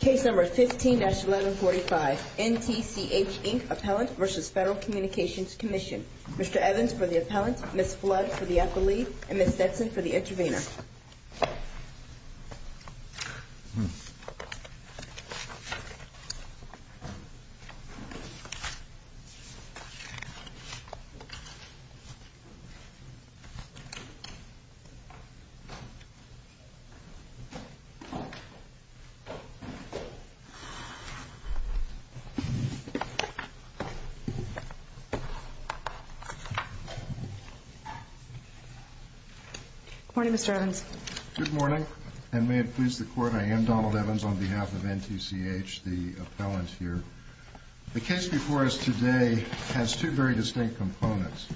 15-1145 NTCH, Inc. v. Federal Communications Commission Mr. Evans for the Appellant, Ms. Flood for the Accolade, and Ms. Dixon for the Intervenor Good morning, Mr. Evans. Good morning, and may it please the Court, I am Donald Evans on behalf of NTCH, the Appellant here. The case before us today has two very distinct components.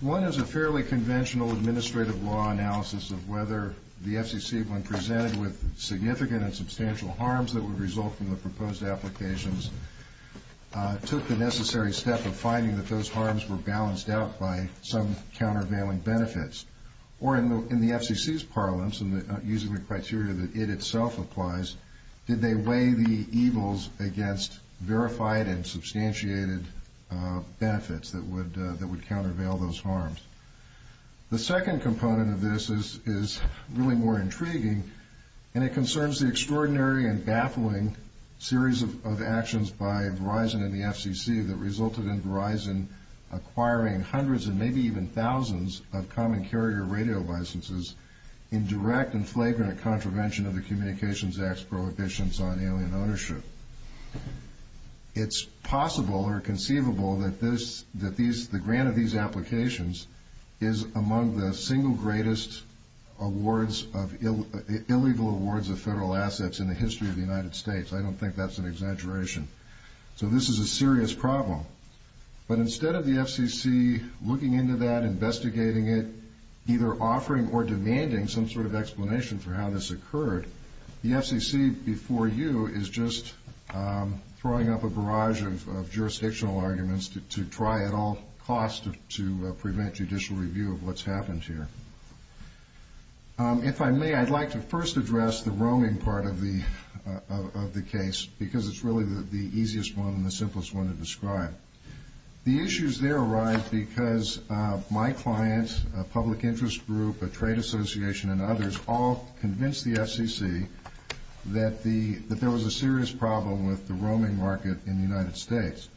One is a fairly conventional administrative law analysis of whether the FCC, when presented with significant and substantial harms that would result from the proposed applications, took the necessary step of finding that those harms were balanced out by some countervailing benefits. Or in the FCC's parlance, using the criteria that it itself applies, did they weigh the evils against verified and substantiated benefits that would countervail those harms. The second component of this is really more intriguing, and it concerns the extraordinary and baffling series of actions by Verizon and the FCC that resulted in Verizon acquiring hundreds and maybe even thousands of common carrier radio licenses in direct and flagrant contravention of the Communications Act's prohibitions on alien ownership. It's possible or conceivable that the grant of these applications is among the single greatest illegal awards of federal assets in the history of the United States. I don't think that's an exaggeration. So this is a serious problem. But instead of the FCC looking into that, investigating it, either offering or demanding some sort of explanation for how this occurred, the FCC before you is just throwing up a barrage of jurisdictional arguments to try at all costs to prevent judicial review of what's happened here. If I may, I'd like to first address the roaming part of the case, because it's really the easiest one and the simplest one to describe. The issues there arise because my clients, a public interest group, a trade association, and others all convinced the FCC that there was a serious problem with the roaming market in the United States.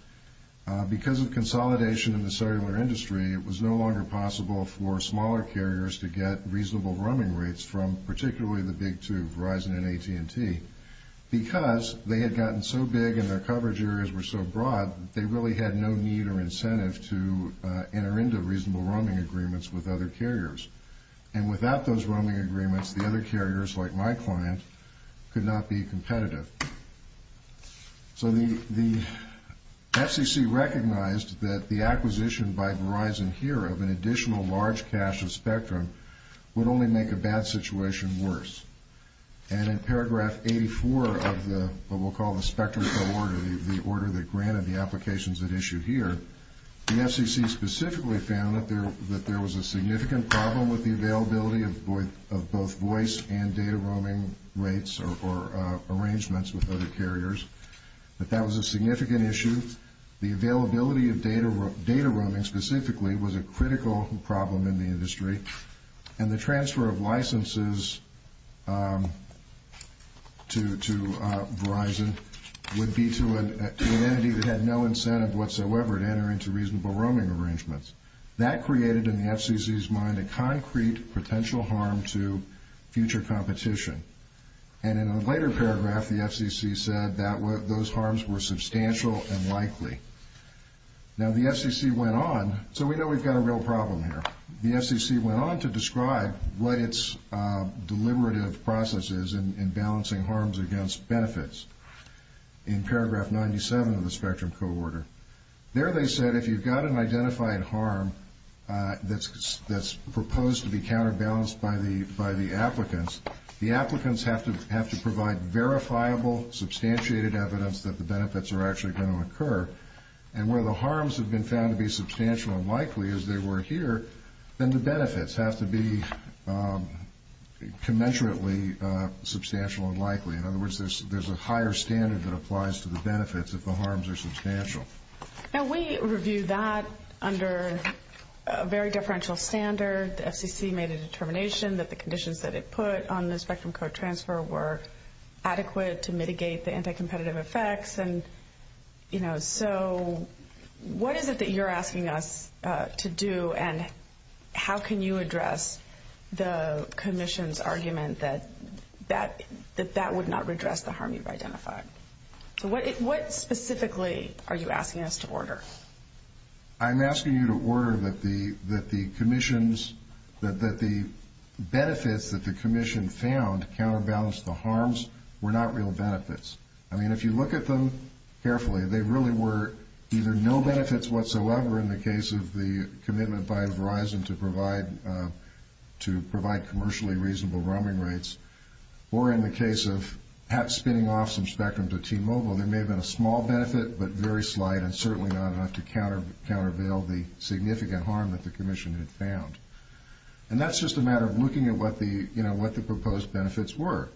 Because of consolidation in the cellular industry, it was no longer possible for smaller carriers to get reasonable roaming rates from particularly the big two, Verizon and AT&T. Because they had gotten so big and their coverage areas were so broad, they really had no need or incentive to enter into reasonable roaming agreements with other carriers. And without those roaming agreements, the other carriers, like my client, could not be competitive. So the FCC recognized that the acquisition by Verizon here of an additional large cache of spectrum would only make a bad situation worse. And in paragraph 84 of what we'll call the spectrum co-order, the order that granted the applications that issue here, the FCC specifically found that there was a significant problem with the availability of both voice and data roaming rates or arrangements with other carriers. That that was a significant issue. The availability of data roaming specifically was a critical problem in the industry. And the transfer of licenses to Verizon would be to an entity that had no incentive whatsoever to enter into reasonable roaming arrangements. That created in the FCC's mind a concrete potential harm to future competition. And in a later paragraph, the FCC said that those harms were substantial and likely. Now, the FCC went on. So we know we've got a real problem here. The FCC went on to describe what its deliberative process is in balancing harms against benefits in paragraph 97 of the spectrum co-order. There they said if you've got an identified harm that's proposed to be counterbalanced by the applicants, the applicants have to provide verifiable, substantiated evidence that the benefits are actually going to occur. And where the harms have been found to be substantial and likely, as they were here, then the benefits have to be commensurately substantial and likely. In other words, there's a higher standard that applies to the benefits if the harms are substantial. Now, we reviewed that under a very differential standard. The FCC made a determination that the conditions that it put on the spectrum co-transfer were adequate to mitigate the anti-competitive effects. And, you know, so what is it that you're asking us to do, and how can you address the commission's argument that that would not redress the harm you've identified? So what specifically are you asking us to order? I'm asking you to order that the commissions, that the benefits that the commission found counterbalanced the harms were not real benefits. I mean, if you look at them carefully, they really were either no benefits whatsoever in the case of the commitment by Verizon to provide commercially reasonable roaming rates, or in the case of perhaps spinning off some spectrum to T-Mobile, there may have been a small benefit, but very slight, and certainly not enough to countervail the significant harm that the commission had found. And that's just a matter of looking at what the proposed benefits were.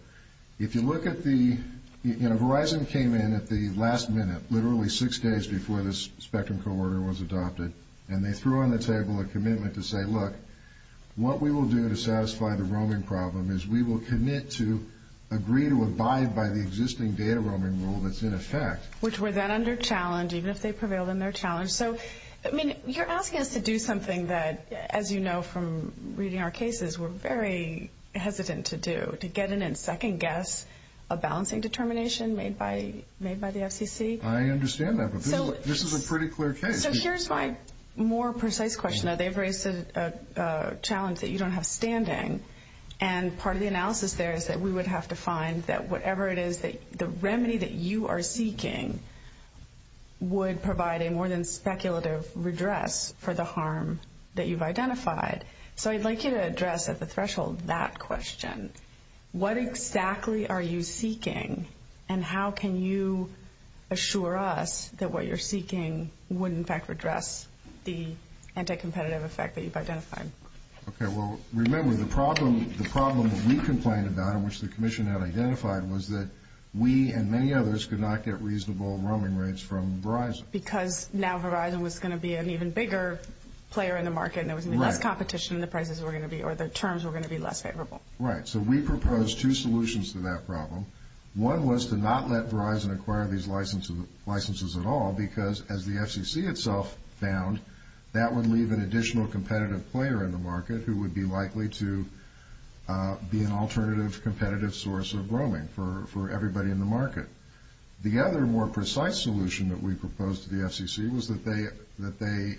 If you look at the, you know, Verizon came in at the last minute, literally six days before this spectrum co-order was adopted, and they threw on the table a commitment to say, look, what we will do to satisfy the roaming problem is we will commit to agree to abide by the existing data roaming rule that's in effect. Which were then under challenge, even if they prevailed in their challenge. So, I mean, you're asking us to do something that, as you know from reading our cases, we're very hesitant to do, to get in and second guess a balancing determination made by the FCC? I understand that, but this is a pretty clear case. So here's my more precise question. They've raised a challenge that you don't have standing, and part of the analysis there is that we would have to find that whatever it is, the remedy that you are seeking would provide a more than speculative redress for the harm that you've identified. So I'd like you to address at the threshold that question. What exactly are you seeking, and how can you assure us that what you're seeking would in fact redress the anti-competitive effect that you've identified? Okay. Well, remember, the problem that we complained about and which the commission had identified was that we and many others could not get reasonable roaming rates from Verizon. Because now Verizon was going to be an even bigger player in the market and there was going to be less competition in the prices we're going to be, or the terms were going to be less favorable. Right. So we proposed two solutions to that problem. One was to not let Verizon acquire these licenses at all because, as the FCC itself found, that would leave an additional competitive player in the market who would be likely to be an alternative competitive source of roaming for everybody in the market. The other more precise solution that we proposed to the FCC was that they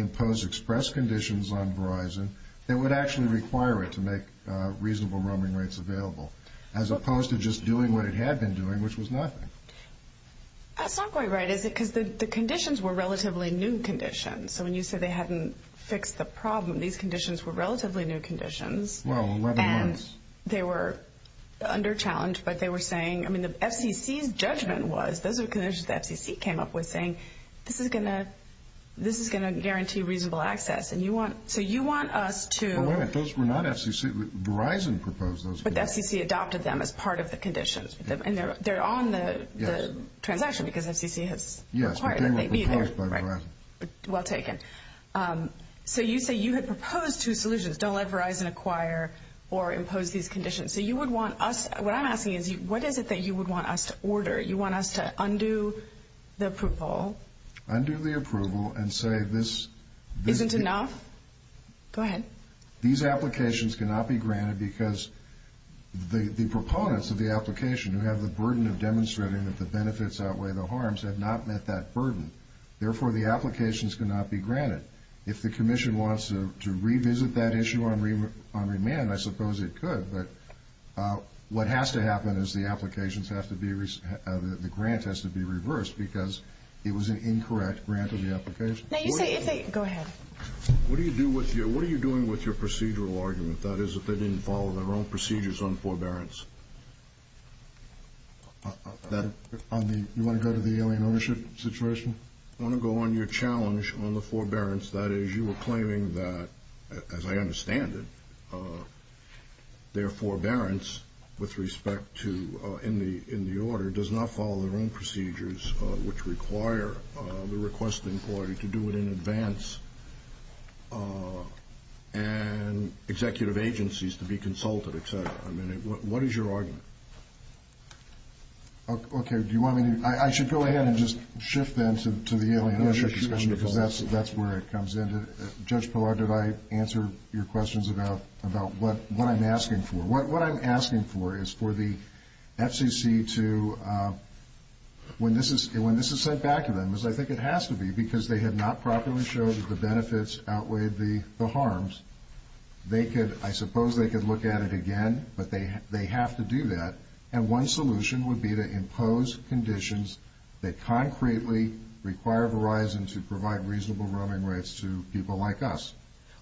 impose express conditions on Verizon that would actually require it to make reasonable roaming rates available, as opposed to just doing what it had been doing, which was nothing. That's not quite right, is it? Because the conditions were relatively new conditions. So when you said they hadn't fixed the problem, these conditions were relatively new conditions. Well, nevertheless. They were under challenge, but they were saying, I mean, the FCC's judgment was, those are the conditions the FCC came up with, saying this is going to guarantee reasonable access. So you want us to— Wait a minute. Those were not FCC. Verizon proposed those conditions. But the FCC adopted them as part of the conditions. And they're on the transaction because FCC has required it. Yes, but they were proposed by Verizon. Well taken. So you say you had proposed two solutions, don't let Verizon acquire or impose these conditions. So you would want us—what I'm asking is, what is it that you would want us to order? You want us to undo the approval. Undo the approval and say this— Isn't enough? Go ahead. These applications cannot be granted because the proponents of the application who have the burden of demonstrating that the benefits outweigh the harms have not met that burden. Therefore, the applications cannot be granted. If the commission wants to revisit that issue on remand, I suppose it could. But what has to happen is the applications have to be—the grant has to be reversed because it was an incorrect grant of the application. Now you say—go ahead. What do you do with your—what are you doing with your procedural argument, that is, if they didn't follow their own procedures on forbearance? You want to go to the alien ownership situation? I want to go on your challenge on the forbearance. That is, you were claiming that, as I understand it, their forbearance with respect to—in the order does not follow their own procedures which require the requesting party to do it in advance and executive agencies to be consulted, et cetera. I mean, what is your argument? Okay. Do you want me to—I should go ahead and just shift then to the alien ownership discussion because that's where it comes in. Judge Pillar, did I answer your questions about what I'm asking for? What I'm asking for is for the FCC to—when this is sent back to them, as I think it has to be because they have not properly showed that the benefits outweigh the harms, I suppose they could look at it again, but they have to do that, and one solution would be to impose conditions that concretely require Verizon to provide reasonable roaming rates to people like us.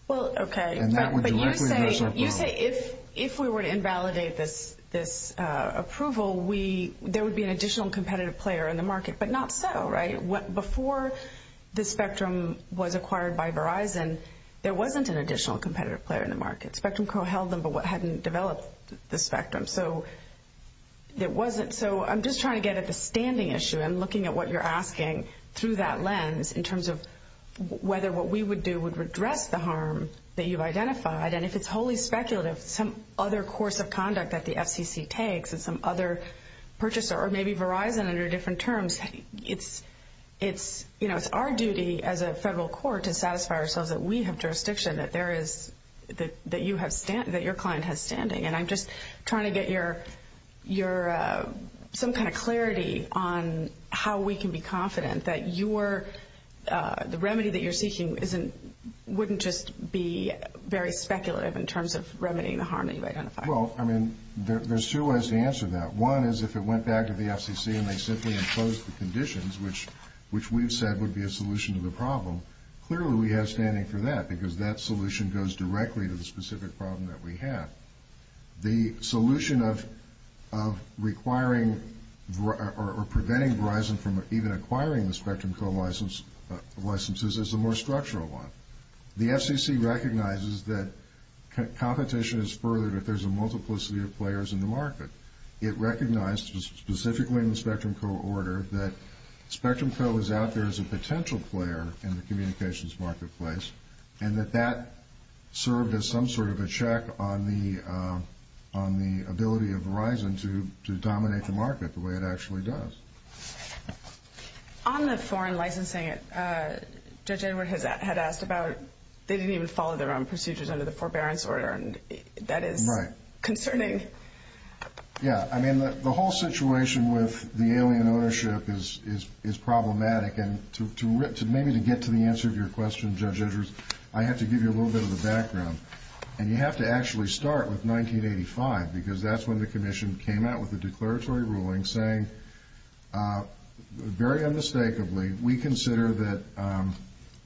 Well, okay. And that would directly address our problem. You say if we were to invalidate this approval, there would be an additional competitive player in the market, but not so, right? Before the Spectrum was acquired by Verizon, there wasn't an additional competitive player in the market. Spectrum co-held them but hadn't developed the Spectrum, so there wasn't— so I'm just trying to get at the standing issue. I'm looking at what you're asking through that lens in terms of whether what we would do would redress the harm that you've identified, and if it's wholly speculative, some other course of conduct that the FCC takes and some other purchaser, or maybe Verizon under different terms, it's our duty as a federal court to satisfy ourselves that we have jurisdiction, that your client has standing, and I'm just trying to get some kind of clarity on how we can be confident that the remedy that you're seeking wouldn't just be very speculative in terms of remedying the harm that you've identified. Well, I mean, there's two ways to answer that. One is if it went back to the FCC and they simply imposed the conditions, which we've said would be a solution to the problem, clearly we have standing for that because that solution goes directly to the specific problem that we have. The solution of requiring or preventing Verizon from even acquiring the Spectrum co-licenses is a more structural one. The FCC recognizes that competition is furthered if there's a multiplicity of players in the market. It recognized, specifically in the Spectrum co-order, that Spectrum co. is out there as a potential player in the communications marketplace and that that served as some sort of a check on the ability of Verizon to dominate the market the way it actually does. On the foreign licensing, Judge Edward had asked about they didn't even follow their own procedures under the forbearance order, and that is concerning. Yeah. I mean, the whole situation with the alien ownership is problematic, and maybe to get to the answer to your question, Judge Edwards, I have to give you a little bit of the background. And you have to actually start with 1985 because that's when the Commission came out with the declaratory ruling saying, very unmistakably, we consider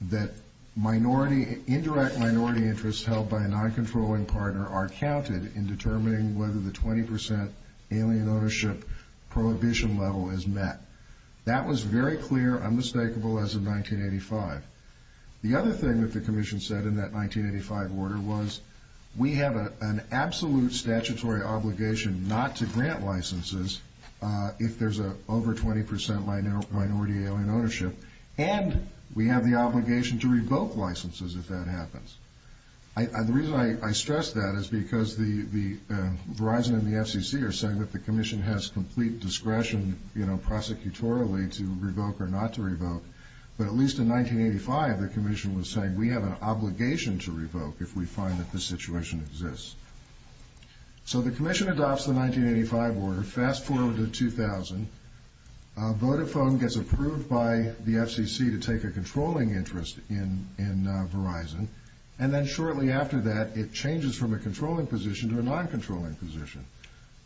that minority, indirect minority interests held by a non-controlling partner are counted in determining whether the 20% alien ownership prohibition level is met. That was very clear, unmistakable, as of 1985. The other thing that the Commission said in that 1985 order was, we have an absolute statutory obligation not to grant licenses if there's over 20% minority alien ownership, and we have the obligation to revoke licenses if that happens. The reason I stress that is because Verizon and the FCC are saying that the Commission has complete discretion, you know, prosecutorially to revoke or not to revoke, but at least in 1985 the Commission was saying, we have an obligation to revoke if we find that this situation exists. So the Commission adopts the 1985 order. Fast forward to 2000, Vodafone gets approved by the FCC to take a controlling interest in Verizon, and then shortly after that it changes from a controlling position to a non-controlling position.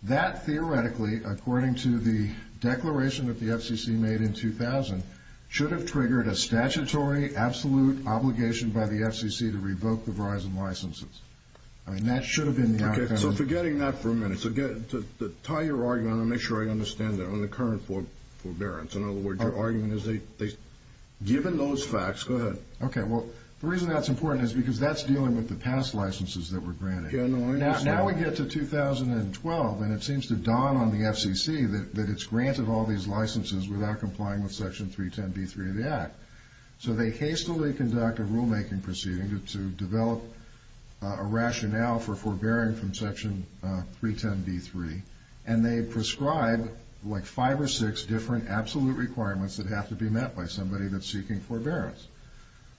That theoretically, according to the declaration that the FCC made in 2000, should have triggered a statutory absolute obligation by the FCC to revoke the Verizon licenses. I mean, that should have been the outcome. So forgetting that for a minute, to tie your argument, I want to make sure I understand that on the current forbearance. In other words, your argument is they've given those facts. Go ahead. Okay, well, the reason that's important is because that's dealing with the past licenses that were granted. Yeah, no, I understand. Now we get to 2012, and it seems to dawn on the FCC that it's granted all these licenses without complying with Section 310b3 of the Act. So they hastily conduct a rulemaking proceeding to develop a rationale for forbearing from Section 310b3, and they prescribe like five or six different absolute requirements that have to be met by somebody that's seeking forbearance.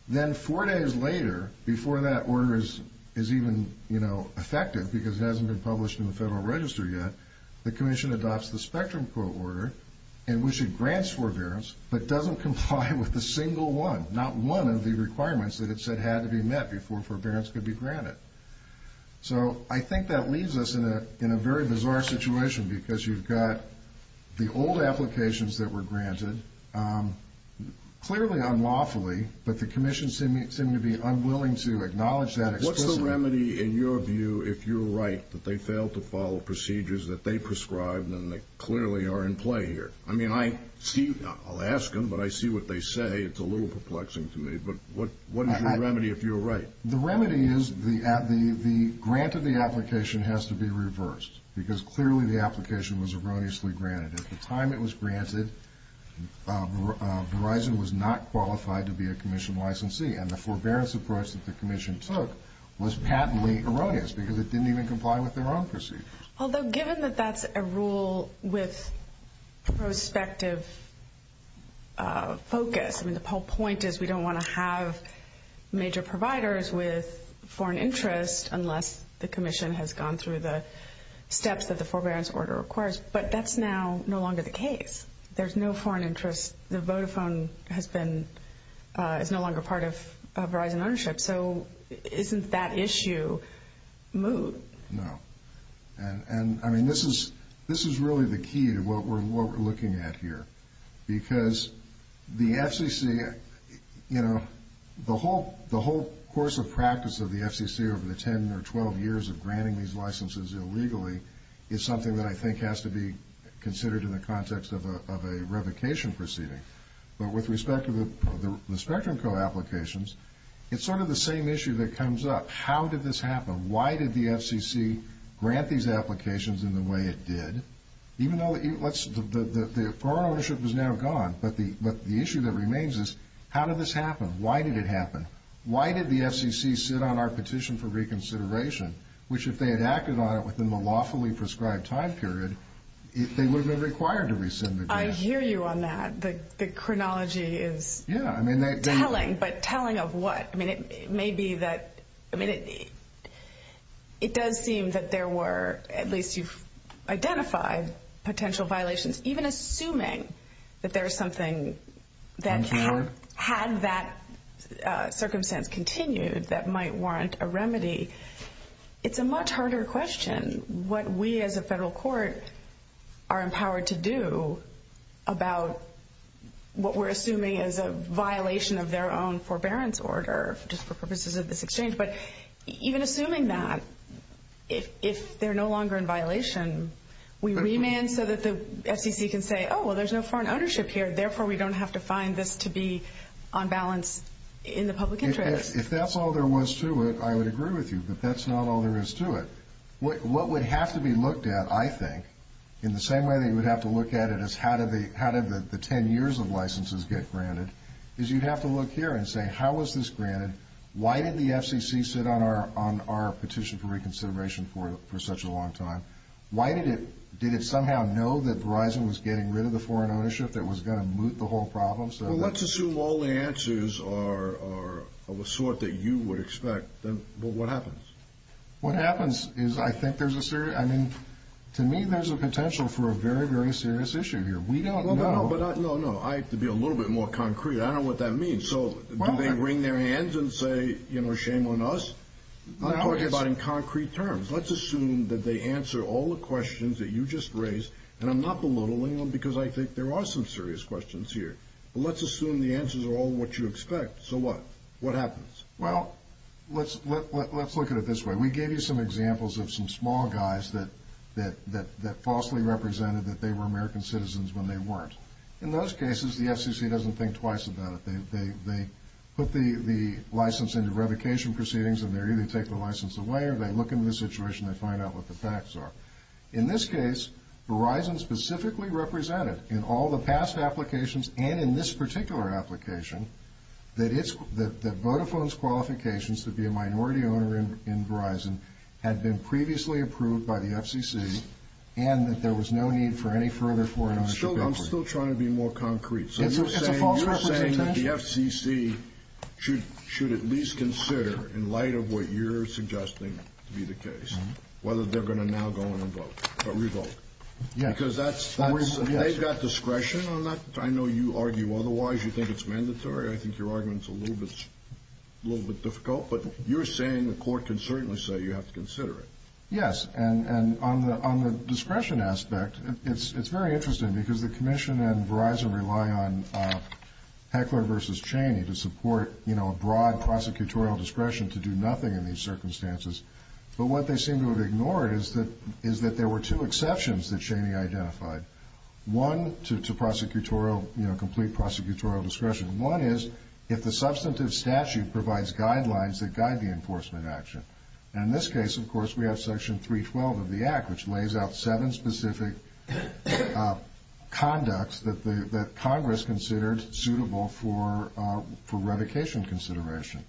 Then four days later, before that order is even effective because it hasn't been published in the Federal Register yet, the Commission adopts the Spectrum Quo order in which it grants forbearance but doesn't comply with a single one, not one of the requirements that it said had to be met before forbearance could be granted. So I think that leaves us in a very bizarre situation because you've got the old applications that were granted, clearly unlawfully, but the Commission seemed to be unwilling to acknowledge that explicitly. What's the remedy, in your view, if you're right, that they failed to follow procedures that they prescribed and they clearly are in play here? I mean, I'll ask them, but I see what they say. It's a little perplexing to me, but what is your remedy if you're right? The remedy is the grant of the application has to be reversed because clearly the application was erroneously granted. At the time it was granted, Verizon was not qualified to be a Commission licensee, and the forbearance approach that the Commission took was patently erroneous because it didn't even comply with their own procedures. Although given that that's a rule with prospective focus, I mean, the whole point is we don't want to have major providers with foreign interest unless the Commission has gone through the steps that the forbearance order requires. But that's now no longer the case. There's no foreign interest. The Vodafone is no longer part of Verizon ownership. So isn't that issue moot? No. And, I mean, this is really the key to what we're looking at here because the FCC, you know, the whole course of practice of the FCC over the 10 or 12 years of granting these licenses illegally is something that I think has to be considered in the context of a revocation proceeding. But with respect to the Spectrum Co. applications, it's sort of the same issue that comes up. How did this happen? Why did the FCC grant these applications in the way it did? Even though the foreign ownership was now gone, but the issue that remains is how did this happen? Why did it happen? Why did the FCC sit on our petition for reconsideration, which if they had acted on it within the lawfully prescribed time period, they would have been required to rescind the grant. I hear you on that. The chronology is telling, but telling of what? I mean, it may be that, I mean, it does seem that there were, at least you've identified potential violations, even assuming that there is something that you had that circumstance continued that might warrant a remedy. It's a much harder question what we as a federal court are empowered to do about what we're assuming is a violation of their own forbearance order, just for purposes of this exchange. But even assuming that, if they're no longer in violation, we remand so that the FCC can say, oh, well, there's no foreign ownership here, therefore we don't have to find this to be on balance in the public interest. If that's all there was to it, I would agree with you. But that's not all there is to it. What would have to be looked at, I think, in the same way that you would have to look at it as how did the ten years of licenses get granted, is you'd have to look here and say, how was this granted? Why did the FCC sit on our petition for reconsideration for such a long time? Why did it somehow know that Verizon was getting rid of the foreign ownership that was going to moot the whole problem? Well, let's assume all the answers are of a sort that you would expect. Then what happens? What happens is I think there's a serious, I mean, to me there's a potential for a very, very serious issue here. We don't know. No, no, I have to be a little bit more concrete. I don't know what that means. So do they wring their hands and say, you know, shame on us? I'm talking about in concrete terms. Let's assume that they answer all the questions that you just raised, and I'm not belittling them because I think there are some serious questions here. But let's assume the answers are all what you expect. So what? What happens? Well, let's look at it this way. We gave you some examples of some small guys that falsely represented that they were American citizens when they weren't. In those cases, the FCC doesn't think twice about it. They put the license into revocation proceedings, and they either take the license away or they look into the situation and they find out what the facts are. In this case, Verizon specifically represented in all the past applications and in this particular application that Vodafone's qualifications to be a minority owner in Verizon had been previously approved by the FCC and that there was no need for any further foreign ownership. I'm still trying to be more concrete. So you're saying that the FCC should at least consider, in light of what you're suggesting to be the case, whether they're going to now go and revoke. Because they've got discretion on that. I know you argue otherwise. You think it's mandatory. I think your argument's a little bit difficult. But you're saying the court can certainly say you have to consider it. Yes. And on the discretion aspect, it's very interesting, because the Commission and Verizon rely on Heckler v. Cheney to support a broad prosecutorial discretion to do nothing in these circumstances. But what they seem to have ignored is that there were two exceptions that Cheney identified, one to complete prosecutorial discretion. One is if the substantive statute provides guidelines that guide the enforcement action. And in this case, of course, we have Section 312 of the Act, which lays out seven specific conducts that Congress considered suitable for revocation consideration.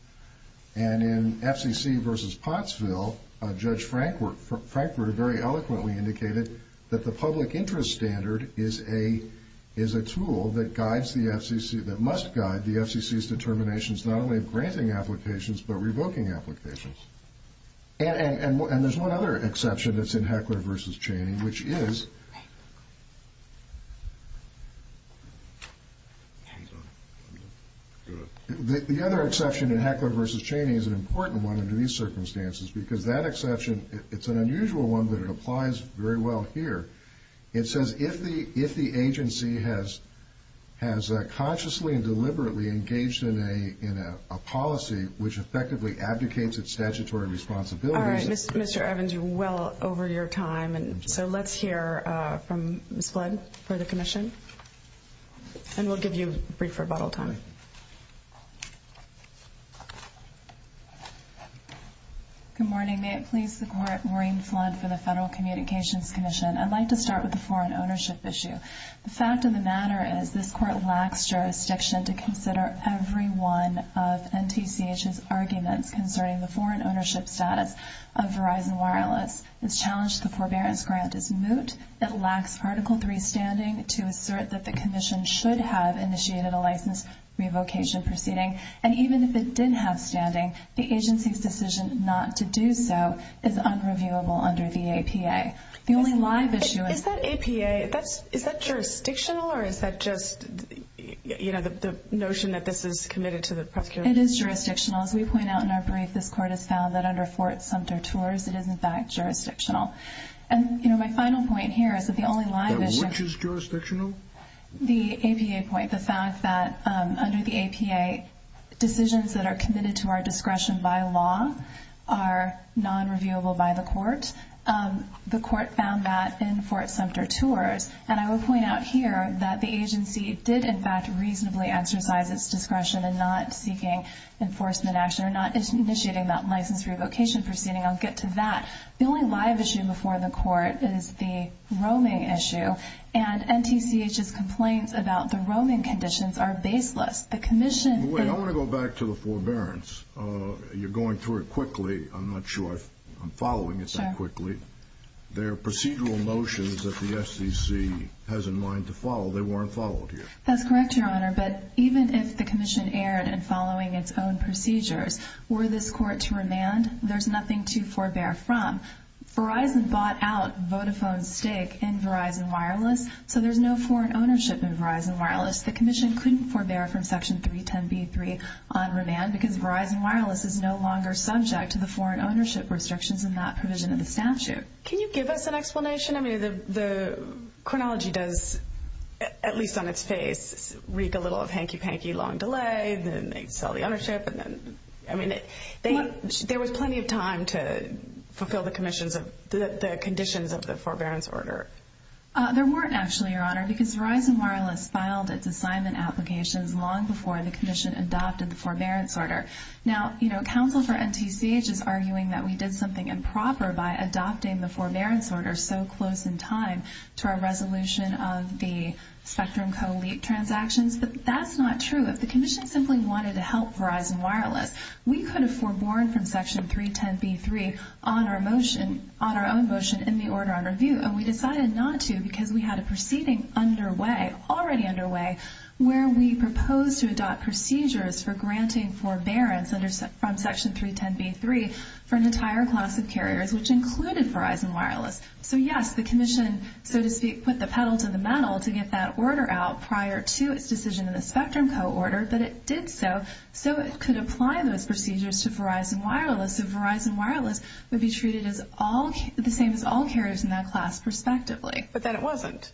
And in FCC v. Pottsville, Judge Frankford very eloquently indicated that the public interest standard is a tool that must guide the FCC's determinations not only of granting applications, but revoking applications. And there's one other exception that's in Heckler v. Cheney, which is the other exception in Heckler v. Cheney is an important one under these circumstances, because that exception, it's an unusual one, but it applies very well here. It says if the agency has consciously and deliberately engaged in a policy which effectively abdicates its statutory responsibilities. All right, Mr. Evans, you're well over your time, and so let's hear from Ms. Flood for the commission, and we'll give you a brief rebuttal time. Good morning. May it please the Court, Maureen Flood for the Federal Communications Commission. I'd like to start with the foreign ownership issue. The fact of the matter is this Court lacks jurisdiction to consider every one of NTCH's arguments concerning the foreign ownership status of Verizon Wireless. It's challenged the forbearance grant is moot. It lacks Article III standing to assert that the commission should have initiated a license revocation proceeding, and even if it did have standing, the agency's decision not to do so is unreviewable under the APA. The only live issue is that APA, is that jurisdictional, or is that just the notion that this is committed to the prosecutor? It is jurisdictional. As we point out in our brief, this Court has found that under Fort Sumter Tours, it is, in fact, jurisdictional. And my final point here is that the only live issue Which is jurisdictional? The APA point, the fact that under the APA decisions that are committed to our discretion by law are nonreviewable by the Court. The Court found that in Fort Sumter Tours, and I will point out here that the agency did, in fact, reasonably exercise its discretion in not seeking enforcement action or not initiating that license revocation proceeding. I'll get to that. The only live issue before the Court is the roaming issue, and NTCH's complaints about the roaming conditions are baseless. The commission Wait, I want to go back to the forbearance. You're going through it quickly. I'm not sure I'm following it so quickly. There are procedural notions that the SEC has in mind to follow. They weren't followed here. That's correct, Your Honor, but even if the commission erred in following its own procedures, were this Court to remand, there's nothing to forbear from. Verizon bought out Vodafone's stake in Verizon Wireless, so there's no foreign ownership in Verizon Wireless. The commission couldn't forbear from Section 310b3 on remand because Verizon Wireless is no longer subject to the foreign ownership restrictions in that provision of the statute. Can you give us an explanation? I mean, the chronology does, at least on its face, reek a little of hanky-panky long delay, then they sell the ownership. I mean, there was plenty of time to fulfill the conditions of the forbearance order. There weren't, actually, Your Honor, because Verizon Wireless filed its assignment applications long before the commission adopted the forbearance order. Now, counsel for NTCH is arguing that we did something improper by adopting the forbearance order so close in time to our resolution of the Spectrum Co. leak transactions, but that's not true. If the commission simply wanted to help Verizon Wireless, we could have foreborne from Section 310b3 on our own motion in the order on review, and we decided not to because we had a proceeding underway, already underway, where we proposed to adopt procedures for granting forbearance from Section 310b3 for an entire class of carriers, which included Verizon Wireless. So, yes, the commission, so to speak, put the pedal to the metal to get that order out prior to its decision in the Spectrum Co. order, but it did so so it could apply those procedures to Verizon Wireless, so Verizon Wireless would be treated the same as all carriers in that class, perspectively. But then it wasn't.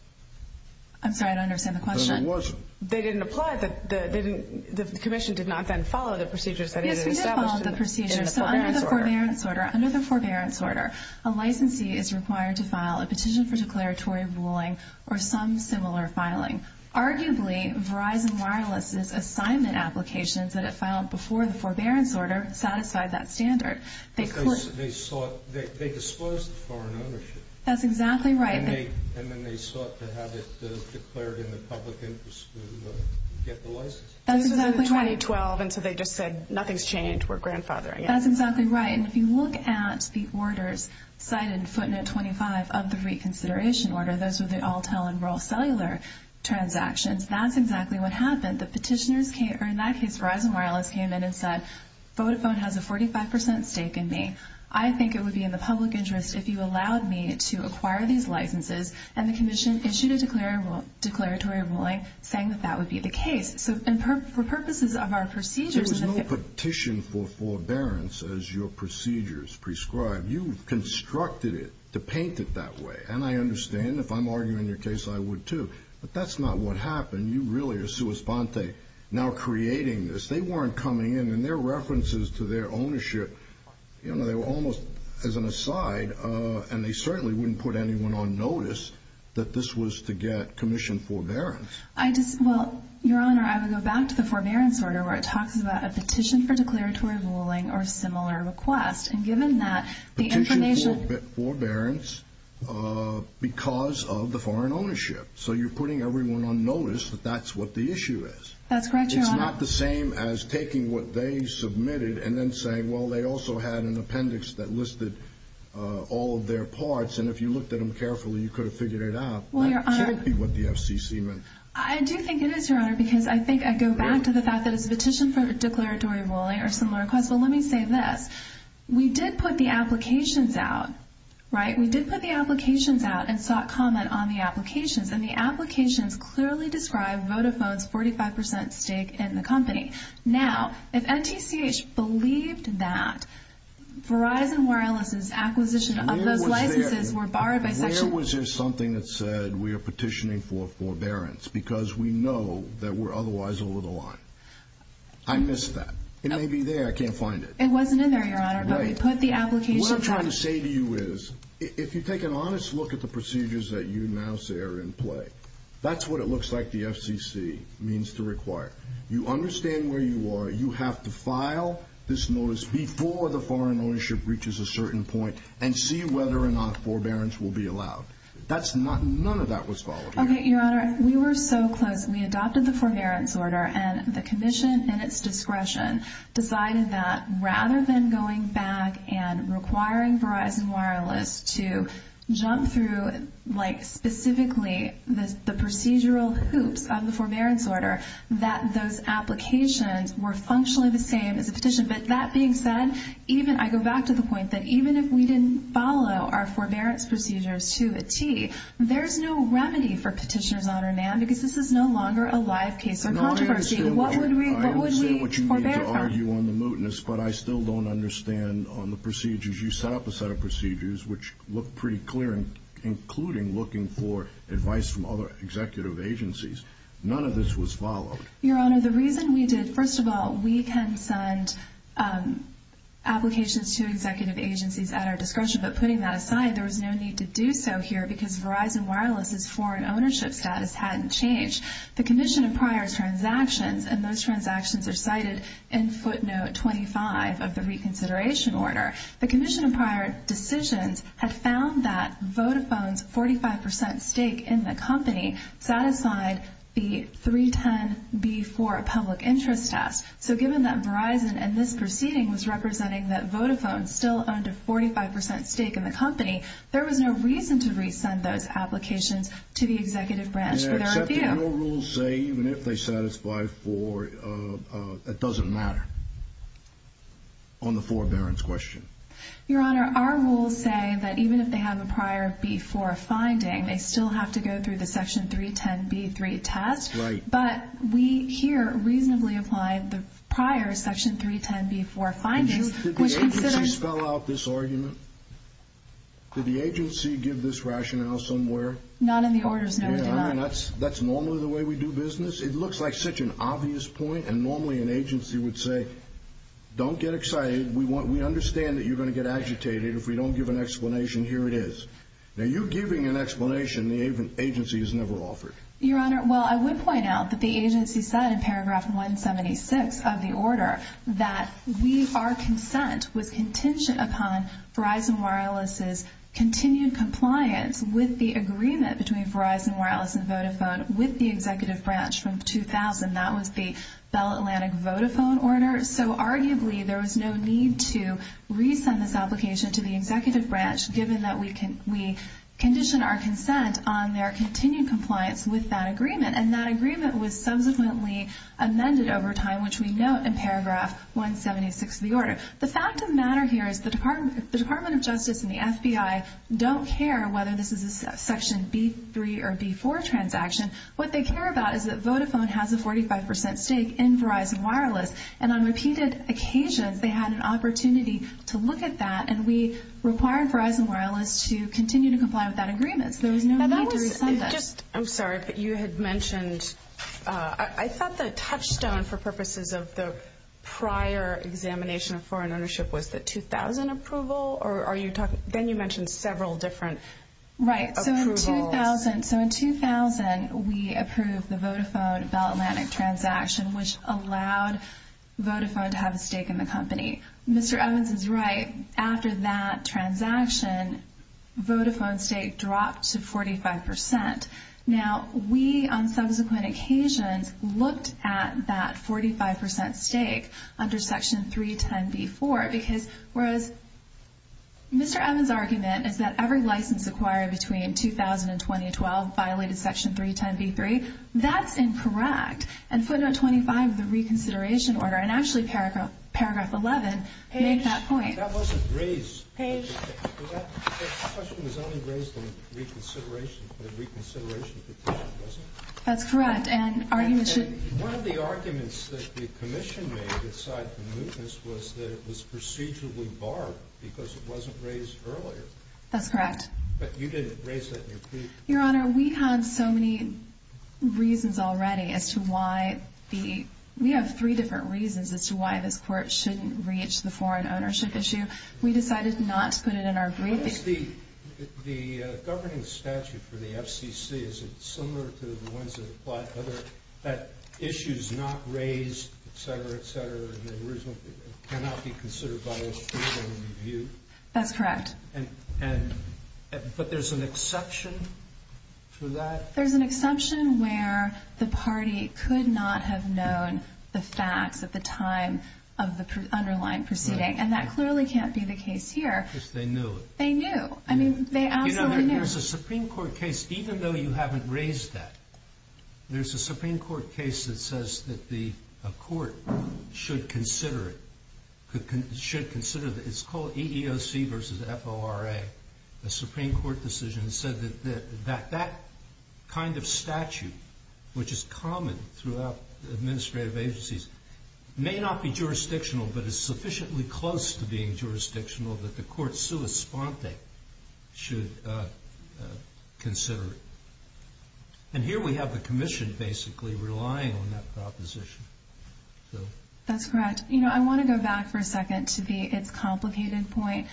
I'm sorry, I don't understand the question. Then it wasn't. They didn't apply. The commission did not then follow the procedures that it had established. Yes, we did follow the procedures. So under the forbearance order, under the forbearance order, a licensee is required to file a petition for declaratory ruling or some similar filing. Arguably, Verizon Wireless' assignment applications that it filed before the forbearance order satisfied that standard. They disclosed the foreign ownership. That's exactly right. And then they sought to have it declared in the public interest to get the license. That's exactly right. This was in 2012, and so they just said nothing's changed. We're grandfathering it. That's exactly right. And if you look at the orders cited in footnote 25 of the reconsideration order, those were the all-tell and roll cellular transactions. That's exactly what happened. In that case, Verizon Wireless came in and said, Vodafone has a 45 percent stake in me. I think it would be in the public interest if you allowed me to acquire these licenses. And the commission issued a declaratory ruling saying that that would be the case. So for purposes of our procedures, There was no petition for forbearance as your procedures prescribed. You constructed it to paint it that way. And I understand if I'm arguing your case, I would, too. But that's not what happened. You really are sua sponte, now creating this. They weren't coming in, and their references to their ownership, they were almost as an aside, and they certainly wouldn't put anyone on notice that this was to get commission forbearance. Your Honor, I would go back to the forbearance order, where it talks about a petition for declaratory ruling or similar request. And given that the information Petition for forbearance because of the foreign ownership. So you're putting everyone on notice that that's what the issue is. That's correct, Your Honor. It's not the same as taking what they submitted and then saying, well, they also had an appendix that listed all of their parts, and if you looked at them carefully, you could have figured it out. That can't be what the FCC meant. I do think it is, Your Honor, because I think I go back to the fact that it's a petition for declaratory ruling or similar request. Well, let me say this. We did put the applications out, right? We did put the applications out and sought comment on the applications, and the applications clearly describe Vodafone's 45 percent stake in the company. Now, if NTCH believed that Verizon Wireless's acquisition of those licenses were borrowed by Section – Where was there something that said we are petitioning for forbearance because we know that we're otherwise over the line? I missed that. It may be there. I can't find it. It wasn't in there, Your Honor, but we put the applications out. What I'm trying to say to you is, if you take an honest look at the procedures that you now see are in play, that's what it looks like the FCC means to require. You understand where you are. You have to file this notice before the foreign ownership reaches a certain point and see whether or not forbearance will be allowed. That's not – none of that was followed. Okay, Your Honor, we were so close. We adopted the forbearance order, and the commission, in its discretion, decided that rather than going back and requiring Verizon Wireless to jump through, like, specifically the procedural hoops of the forbearance order, that those applications were functionally the same as a petition. But that being said, even – I go back to the point that, even if we didn't follow our forbearance procedures to a T, there's no remedy for petitioners on our NAM because this is no longer a live case of controversy. What would we forbear from? I understand what you mean to argue on the mootness, but I still don't understand on the procedures. You set up a set of procedures which look pretty clear, including looking for advice from other executive agencies. None of this was followed. Your Honor, the reason we did – first of all, we can send applications to executive agencies at our discretion, but putting that aside, there was no need to do so here because Verizon Wireless's foreign ownership status hadn't changed. The commission in prior transactions – and those transactions are cited in footnote 25 of the reconsideration order – the commission in prior decisions had found that Vodafone's 45 percent stake in the company satisfied the 310B4 public interest test. So given that Verizon in this proceeding was representing that Vodafone still owned a 45 percent stake in the company, there was no reason to resend those applications to the executive branch for their review. And I accept that no rules say even if they satisfy for – that doesn't matter on the forbearance question. Your Honor, our rules say that even if they have a prior B4 finding, they still have to go through the Section 310B3 test. Right. But we here reasonably apply the prior Section 310B4 findings. Did the agency spell out this argument? Did the agency give this rationale somewhere? Not in the orders noted below. That's normally the way we do business? It looks like such an obvious point, and normally an agency would say, don't get excited, we understand that you're going to get agitated if we don't give an explanation, here it is. Now you're giving an explanation the agency has never offered. Your Honor, well, I would point out that the agency said in Paragraph 176 of the order that our consent was contingent upon Verizon Wireless's continued compliance with the agreement between Verizon Wireless and Vodafone with the executive branch from 2000. That was the Bell Atlantic Vodafone order. So arguably there was no need to resend this application to the executive branch given that we condition our consent on their continued compliance with that agreement, and that agreement was subsequently amended over time, which we note in Paragraph 176 of the order. The fact of the matter here is the Department of Justice and the FBI don't care whether this is a Section B3 or B4 transaction. What they care about is that Vodafone has a 45% stake in Verizon Wireless, and on repeated occasions they had an opportunity to look at that, and we required Verizon Wireless to continue to comply with that agreement. There was no need to resend it. I'm sorry, but you had mentioned, I thought the touchstone for purposes of the prior examination of foreign ownership was the 2000 approval, or are you talking, then you mentioned several different approvals. Right, so in 2000 we approved the Vodafone Bell Atlantic transaction, which allowed Vodafone to have a stake in the company. Mr. Evans is right. After that transaction, Vodafone's stake dropped to 45%. Now, we on subsequent occasions looked at that 45% stake under Section 310B4, because whereas Mr. Evans' argument is that every license acquired between 2000 and 2012 violated Section 310B3, that's incorrect. And footnote 25 of the reconsideration order, and actually paragraph 11, make that point. Page. That wasn't raised. Page. The question was only raised in the reconsideration petition, wasn't it? That's correct, and argument should One of the arguments that the commission made inside the mootness was that it was procedurally barred because it wasn't raised earlier. That's correct. But you didn't raise that in your plea. Your Honor, we had so many reasons already as to why the We have three different reasons as to why this court shouldn't reach the foreign ownership issue. We decided not to put it in our briefing. The governing statute for the FCC, is it similar to the ones that apply to other that issues not raised, et cetera, et cetera, cannot be considered by those people to review? That's correct. But there's an exception to that? There's an exception where the party could not have known the facts at the time of the underlying proceeding. And that clearly can't be the case here. They knew. They knew. I mean, they absolutely knew. There's a Supreme Court case, even though you haven't raised that, there's a Supreme Court case that says that the court should consider it. It's called EEOC versus FORA. The Supreme Court decision said that that kind of statute, which is common throughout administrative agencies, may not be jurisdictional, but it's sufficiently close to being jurisdictional that the court sui sponte should consider it. And here we have the commission basically relying on that proposition. That's correct. You know, I want to go back for a second to the it's complicated point.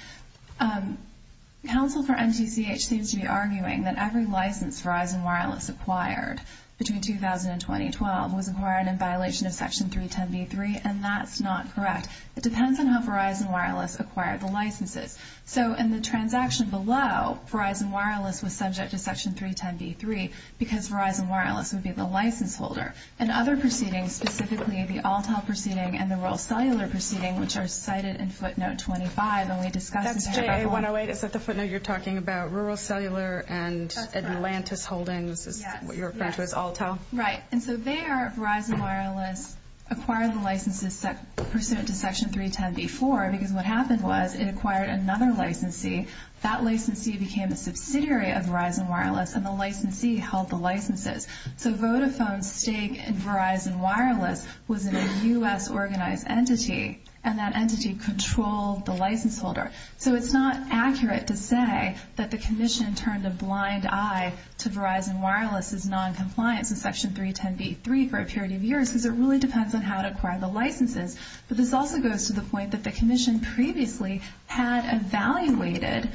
Counsel for NTCH seems to be arguing that every license Verizon Wireless acquired between 2000 and 2012 was acquired in violation of Section 310b3, and that's not correct. It depends on how Verizon Wireless acquired the licenses. So in the transaction below, Verizon Wireless was subject to Section 310b3 because Verizon Wireless would be the license holder. And other proceedings, specifically the Alltel proceeding and the Rural Cellular proceeding, which are cited in footnote 25, and we discussed them. That's JA108. It's at the footnote you're talking about Rural Cellular and Atlantis Holdings is what you're referring to as Alltel. Right. And so there Verizon Wireless acquired the licenses pursuant to Section 310b4 because what happened was it acquired another licensee. That licensee became a subsidiary of Verizon Wireless, and the licensee held the licenses. So Vodafone's stake in Verizon Wireless was in a U.S.-organized entity, and that entity controlled the license holder. So it's not accurate to say that the commission turned a blind eye to Verizon Wireless' noncompliance in Section 310b3 for a period of years because it really depends on how it acquired the licenses. But this also goes to the point that the commission previously had evaluated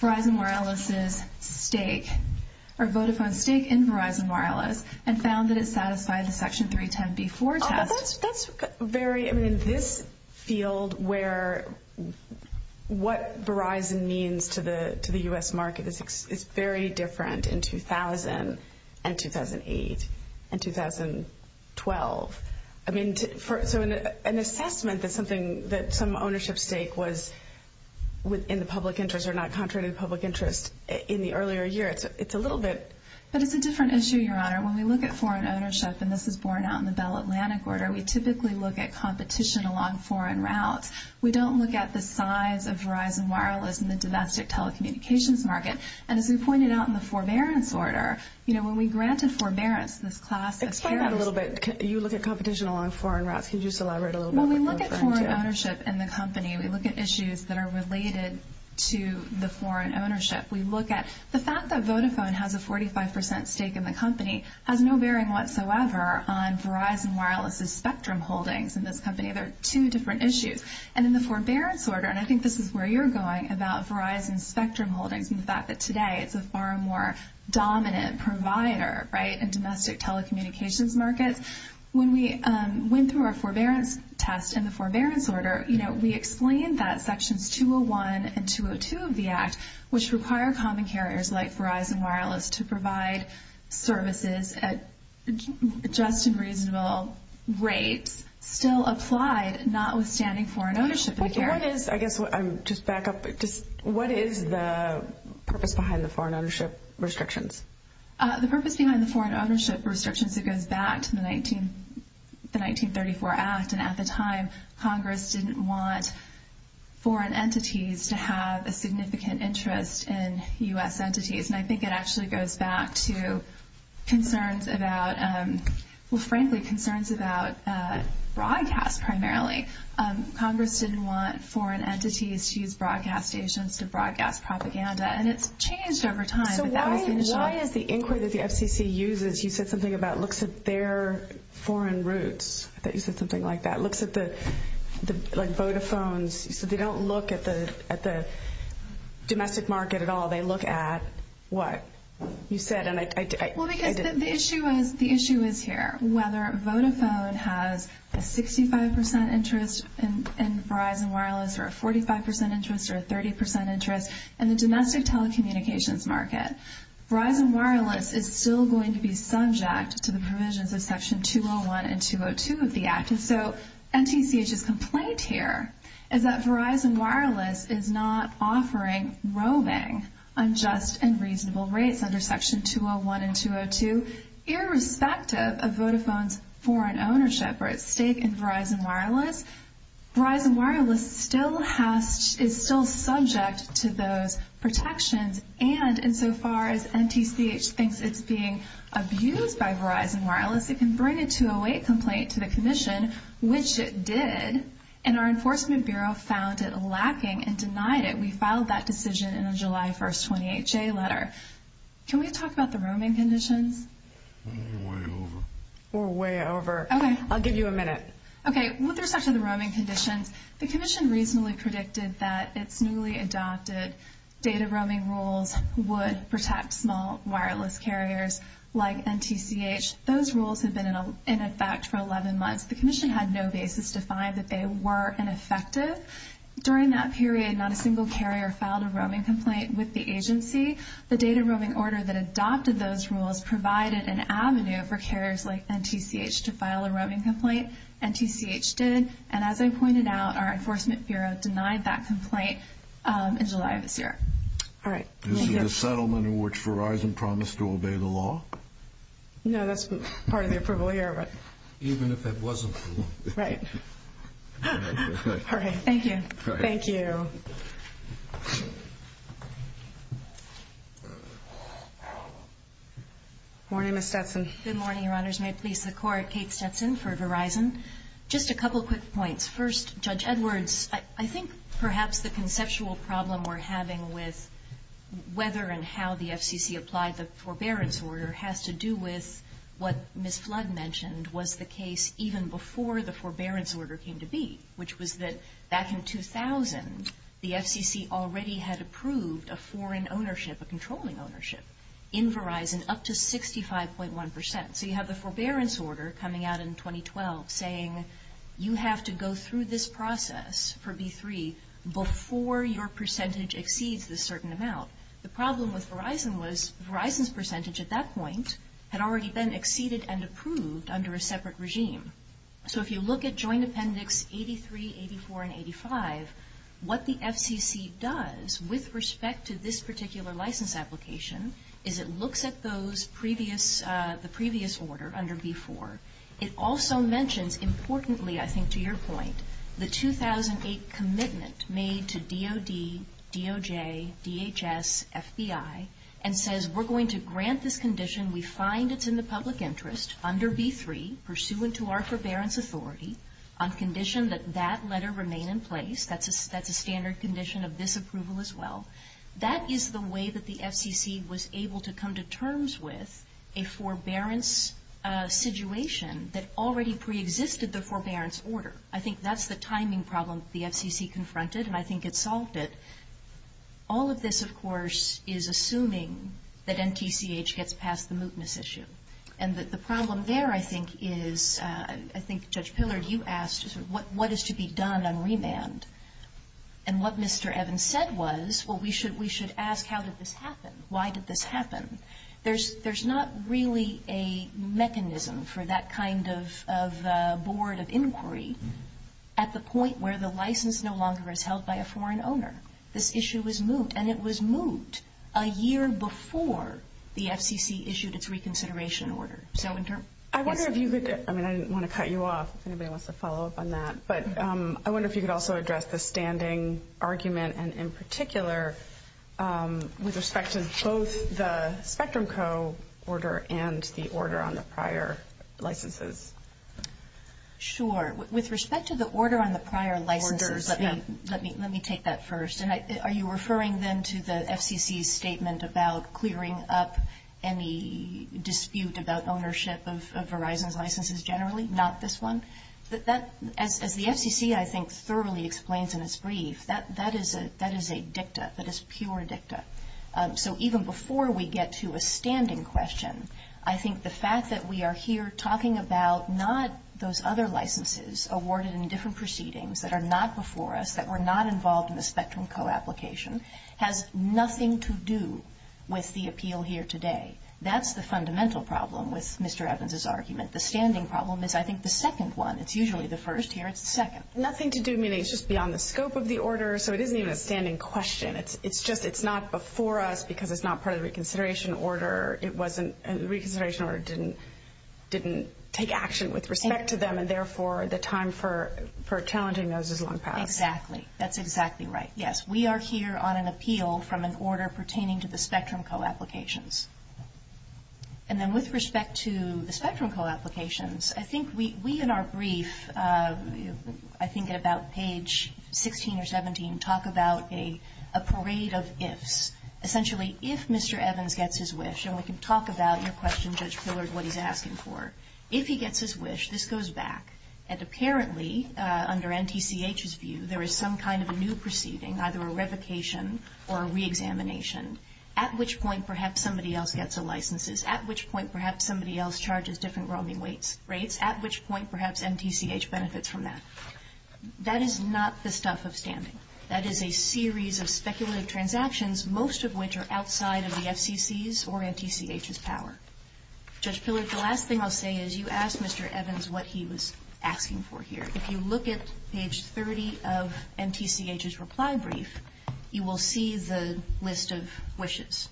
Verizon Wireless' stake and found that it satisfied the Section 310b4 test. That's very, I mean, in this field where what Verizon means to the U.S. market is very different in 2000 and 2008 and 2012. I mean, so an assessment that some ownership stake was in the public interest or not contrary to the public interest in the earlier year, it's a little bit. But it's a different issue, Your Honor. When we look at foreign ownership, and this is borne out in the Bell-Atlantic order, we typically look at competition along foreign routes. We don't look at the size of Verizon Wireless in the domestic telecommunications market. And as we pointed out in the forbearance order, you know, when we granted forbearance, this class of carriers— Explain that a little bit. You look at competition along foreign routes. Could you just elaborate a little bit? When we look at foreign ownership in the company, we look at issues that are related to the foreign ownership. We look at the fact that Vodafone has a 45 percent stake in the company has no bearing whatsoever on Verizon Wireless' spectrum holdings in this company. They're two different issues. And in the forbearance order, and I think this is where you're going about Verizon's spectrum holdings and the fact that today it's a far more dominant provider, right, in domestic telecommunications markets. When we went through our forbearance test in the forbearance order, you know, we explained that Sections 201 and 202 of the Act, which require common carriers like Verizon Wireless to provide services at just and reasonable rates, still applied, notwithstanding foreign ownership of the carrier. I guess I'm just back up. What is the purpose behind the foreign ownership restrictions? The purpose behind the foreign ownership restrictions, it goes back to the 1934 Act. And at the time, Congress didn't want foreign entities to have a significant interest in U.S. entities. And I think it actually goes back to concerns about, well, frankly, concerns about broadcast primarily. Congress didn't want foreign entities to use broadcast stations to broadcast propaganda. And it's changed over time. So why is the inquiry that the FCC uses, you said something about looks at their foreign roots. I thought you said something like that, looks at the Vodafone's. You said they don't look at the domestic market at all. They look at what you said. Well, because the issue is here, whether Vodafone has a 65% interest in Verizon Wireless or a 45% interest or a 30% interest in the domestic telecommunications market, Verizon Wireless is still going to be subject to the provisions of Section 201 and 202 of the Act. And so NTCH's complaint here is that Verizon Wireless is not offering roaming on just and reasonable rates under Section 201 and 202, irrespective of Vodafone's foreign ownership or its stake in Verizon Wireless. Verizon Wireless is still subject to those protections. And insofar as NTCH thinks it's being abused by Verizon Wireless, it can bring a 208 complaint to the commission, which it did. And our Enforcement Bureau found it lacking and denied it. We filed that decision in a July 1st 28-J letter. Can we talk about the roaming conditions? We're way over. We're way over. I'll give you a minute. Okay, with respect to the roaming conditions, the commission reasonably predicted that its newly adopted data roaming rules would protect small wireless carriers like NTCH. Those rules had been in effect for 11 months. The commission had no basis to find that they were ineffective. During that period, not a single carrier filed a roaming complaint with the agency. The data roaming order that adopted those rules provided an avenue for carriers like NTCH to file a roaming complaint. NTCH did. And as I pointed out, our Enforcement Bureau denied that complaint in July of this year. All right, thank you. Is it a settlement in which Verizon promised to obey the law? No, that's part of the approval here. Even if it wasn't. Right. All right, thank you. Thank you. Good morning, Ms. Stetson. Good morning, Your Honors. May it please the Court, Kate Stetson for Verizon. Just a couple quick points. First, Judge Edwards, I think perhaps the conceptual problem we're having with whether and how the FCC applied the forbearance order has to do with what Ms. Flood mentioned was the case even before the forbearance order came to be, which was that back in 2000 the FCC already had approved a foreign ownership, a controlling ownership, in Verizon up to 65.1%. So you have the forbearance order coming out in 2012 saying you have to go through this process for B3 before your percentage exceeds this certain amount. The problem with Verizon was Verizon's percentage at that point had already been exceeded and approved under a separate regime. So if you look at Joint Appendix 83, 84, and 85, what the FCC does with respect to this particular license application is it looks at the previous order under B4. It also mentions importantly, I think to your point, the 2008 commitment made to DOD, DOJ, DHS, FBI, and says we're going to grant this condition. We find it's in the public interest under B3, pursuant to our forbearance authority, on condition that that letter remain in place. That's a standard condition of this approval as well. That is the way that the FCC was able to come to terms with a forbearance situation that already preexisted the forbearance order. I think that's the timing problem the FCC confronted, and I think it solved it. All of this, of course, is assuming that NTCH gets past the mootness issue. And the problem there, I think, is I think Judge Pillard, you asked what is to be done on remand. And what Mr. Evans said was, well, we should ask how did this happen? Why did this happen? There's not really a mechanism for that kind of board of inquiry at the point where the license no longer is held by a foreign owner. This issue is moot, and it was moot a year before the FCC issued its reconsideration order. I wonder if you could, I mean, I didn't want to cut you off if anybody wants to follow up on that, but I wonder if you could also address the standing argument, and in particular, with respect to both the Spectrum Co. order and the order on the prior licenses. Sure. With respect to the order on the prior licenses, let me take that first. Are you referring then to the FCC's statement about clearing up any dispute about ownership of Verizon's licenses generally, not this one? As the FCC, I think, thoroughly explains in its brief, that is a dicta. That is pure dicta. So even before we get to a standing question, I think the fact that we are here talking about not those other licenses awarded in different proceedings that are not before us, that were not involved in the Spectrum Co. application, has nothing to do with the appeal here today. That's the fundamental problem with Mr. Evans's argument. The standing problem is, I think, the second one. It's usually the first here. It's the second. Nothing to do, meaning it's just beyond the scope of the order, so it isn't even a standing question. It's just it's not before us because it's not part of the reconsideration order. The reconsideration order didn't take action with respect to them, and therefore the time for challenging those is long past. Exactly. That's exactly right. Yes, we are here on an appeal from an order pertaining to the Spectrum Co. applications. And then with respect to the Spectrum Co. applications, I think we in our brief, I think at about page 16 or 17, talk about a parade of ifs. Essentially, if Mr. Evans gets his wish, and we can talk about your question, Judge Pillard, what he's asking for. If he gets his wish, this goes back. And apparently, under NTCH's view, there is some kind of a new proceeding, either a revocation or a reexamination, at which point perhaps somebody else gets the licenses, at which point perhaps somebody else charges different roaming rates, at which point perhaps NTCH benefits from that. That is not the stuff of standing. That is a series of speculative transactions, most of which are outside of the FCC's or NTCH's power. Judge Pillard, the last thing I'll say is you asked Mr. Evans what he was asking for here. If you look at page 30 of NTCH's reply brief, you will see the list of wishes.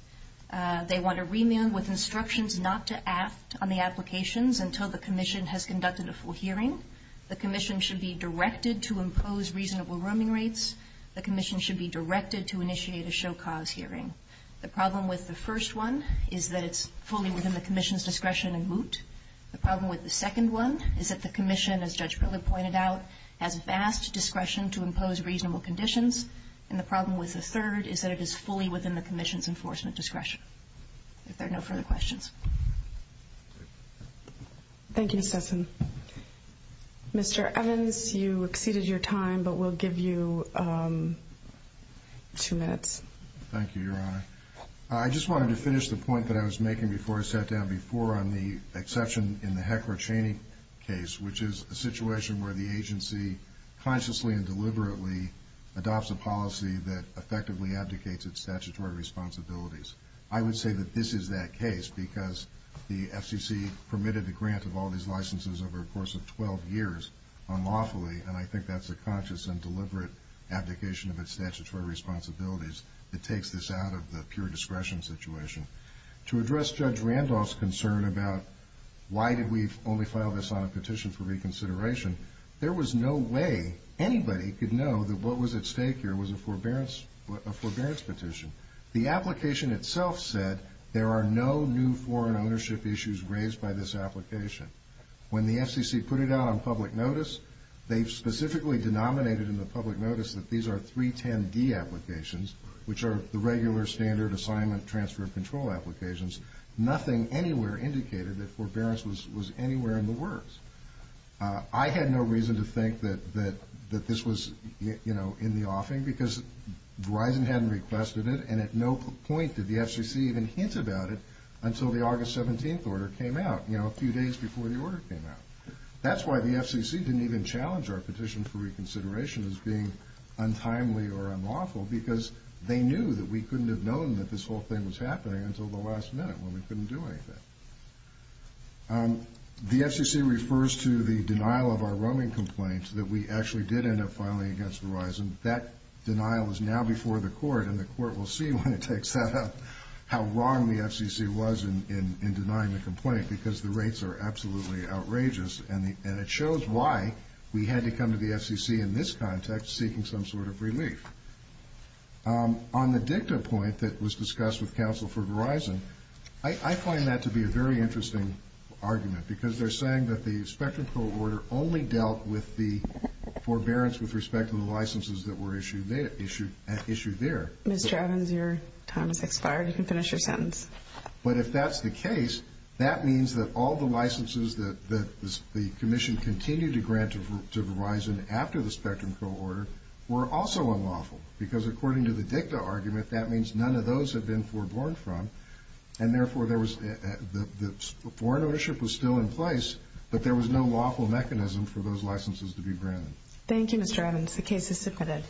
They want a remand with instructions not to act on the applications until the commission has conducted a full hearing. The commission should be directed to impose reasonable roaming rates. The commission should be directed to initiate a show-cause hearing. The problem with the first one is that it's fully within the commission's discretion and moot. The problem with the second one is that the commission, as Judge Pillard pointed out, has vast discretion to impose reasonable conditions. And the problem with the third is that it is fully within the commission's enforcement discretion. If there are no further questions. Thank you, Ms. Sesson. Mr. Evans, you exceeded your time, but we'll give you two minutes. Thank you, Your Honor. I just wanted to finish the point that I was making before I sat down before on the exception in the Hecker-Cheney case, which is a situation where the agency consciously and deliberately adopts a policy that effectively abdicates its statutory responsibilities. I would say that this is that case because the FCC permitted the grant of all these licenses over a course of 12 years unlawfully, and I think that's a conscious and deliberate abdication of its statutory responsibilities that takes this out of the pure discretion situation. To address Judge Randolph's concern about why did we only file this on a petition for reconsideration, there was no way anybody could know that what was at stake here was a forbearance petition. The application itself said there are no new foreign ownership issues raised by this application. When the FCC put it out on public notice, they specifically denominated in the public notice that these are 310D applications, which are the regular standard assignment transfer of control applications. Nothing anywhere indicated that forbearance was anywhere in the works. I had no reason to think that this was in the offing because Verizon hadn't requested it, and at no point did the FCC even hint about it until the August 17th order came out, a few days before the order came out. That's why the FCC didn't even challenge our petition for reconsideration as being untimely or unlawful because they knew that we couldn't have known that this whole thing was happening until the last minute when we couldn't do anything. The FCC refers to the denial of our roaming complaints that we actually did end up filing against Verizon. That denial is now before the court, and the court will see when it takes that up how wrong the FCC was in denying the complaint because the rates are absolutely outrageous, and it shows why we had to come to the FCC in this context seeking some sort of relief. On the dicta point that was discussed with counsel for Verizon, I find that to be a very interesting argument because they're saying that the Spectrum Pro order only dealt with the forbearance with respect to the licenses that were issued there. Ms. Javins, your time has expired. You can finish your sentence. But if that's the case, that means that all the licenses that the commission continued to grant to Verizon after the Spectrum Pro order were also unlawful because according to the dicta argument that means none of those have been foreborn from, and therefore the foreign ownership was still in place, but there was no lawful mechanism for those licenses to be granted. Thank you, Mr. Evans. The case is submitted.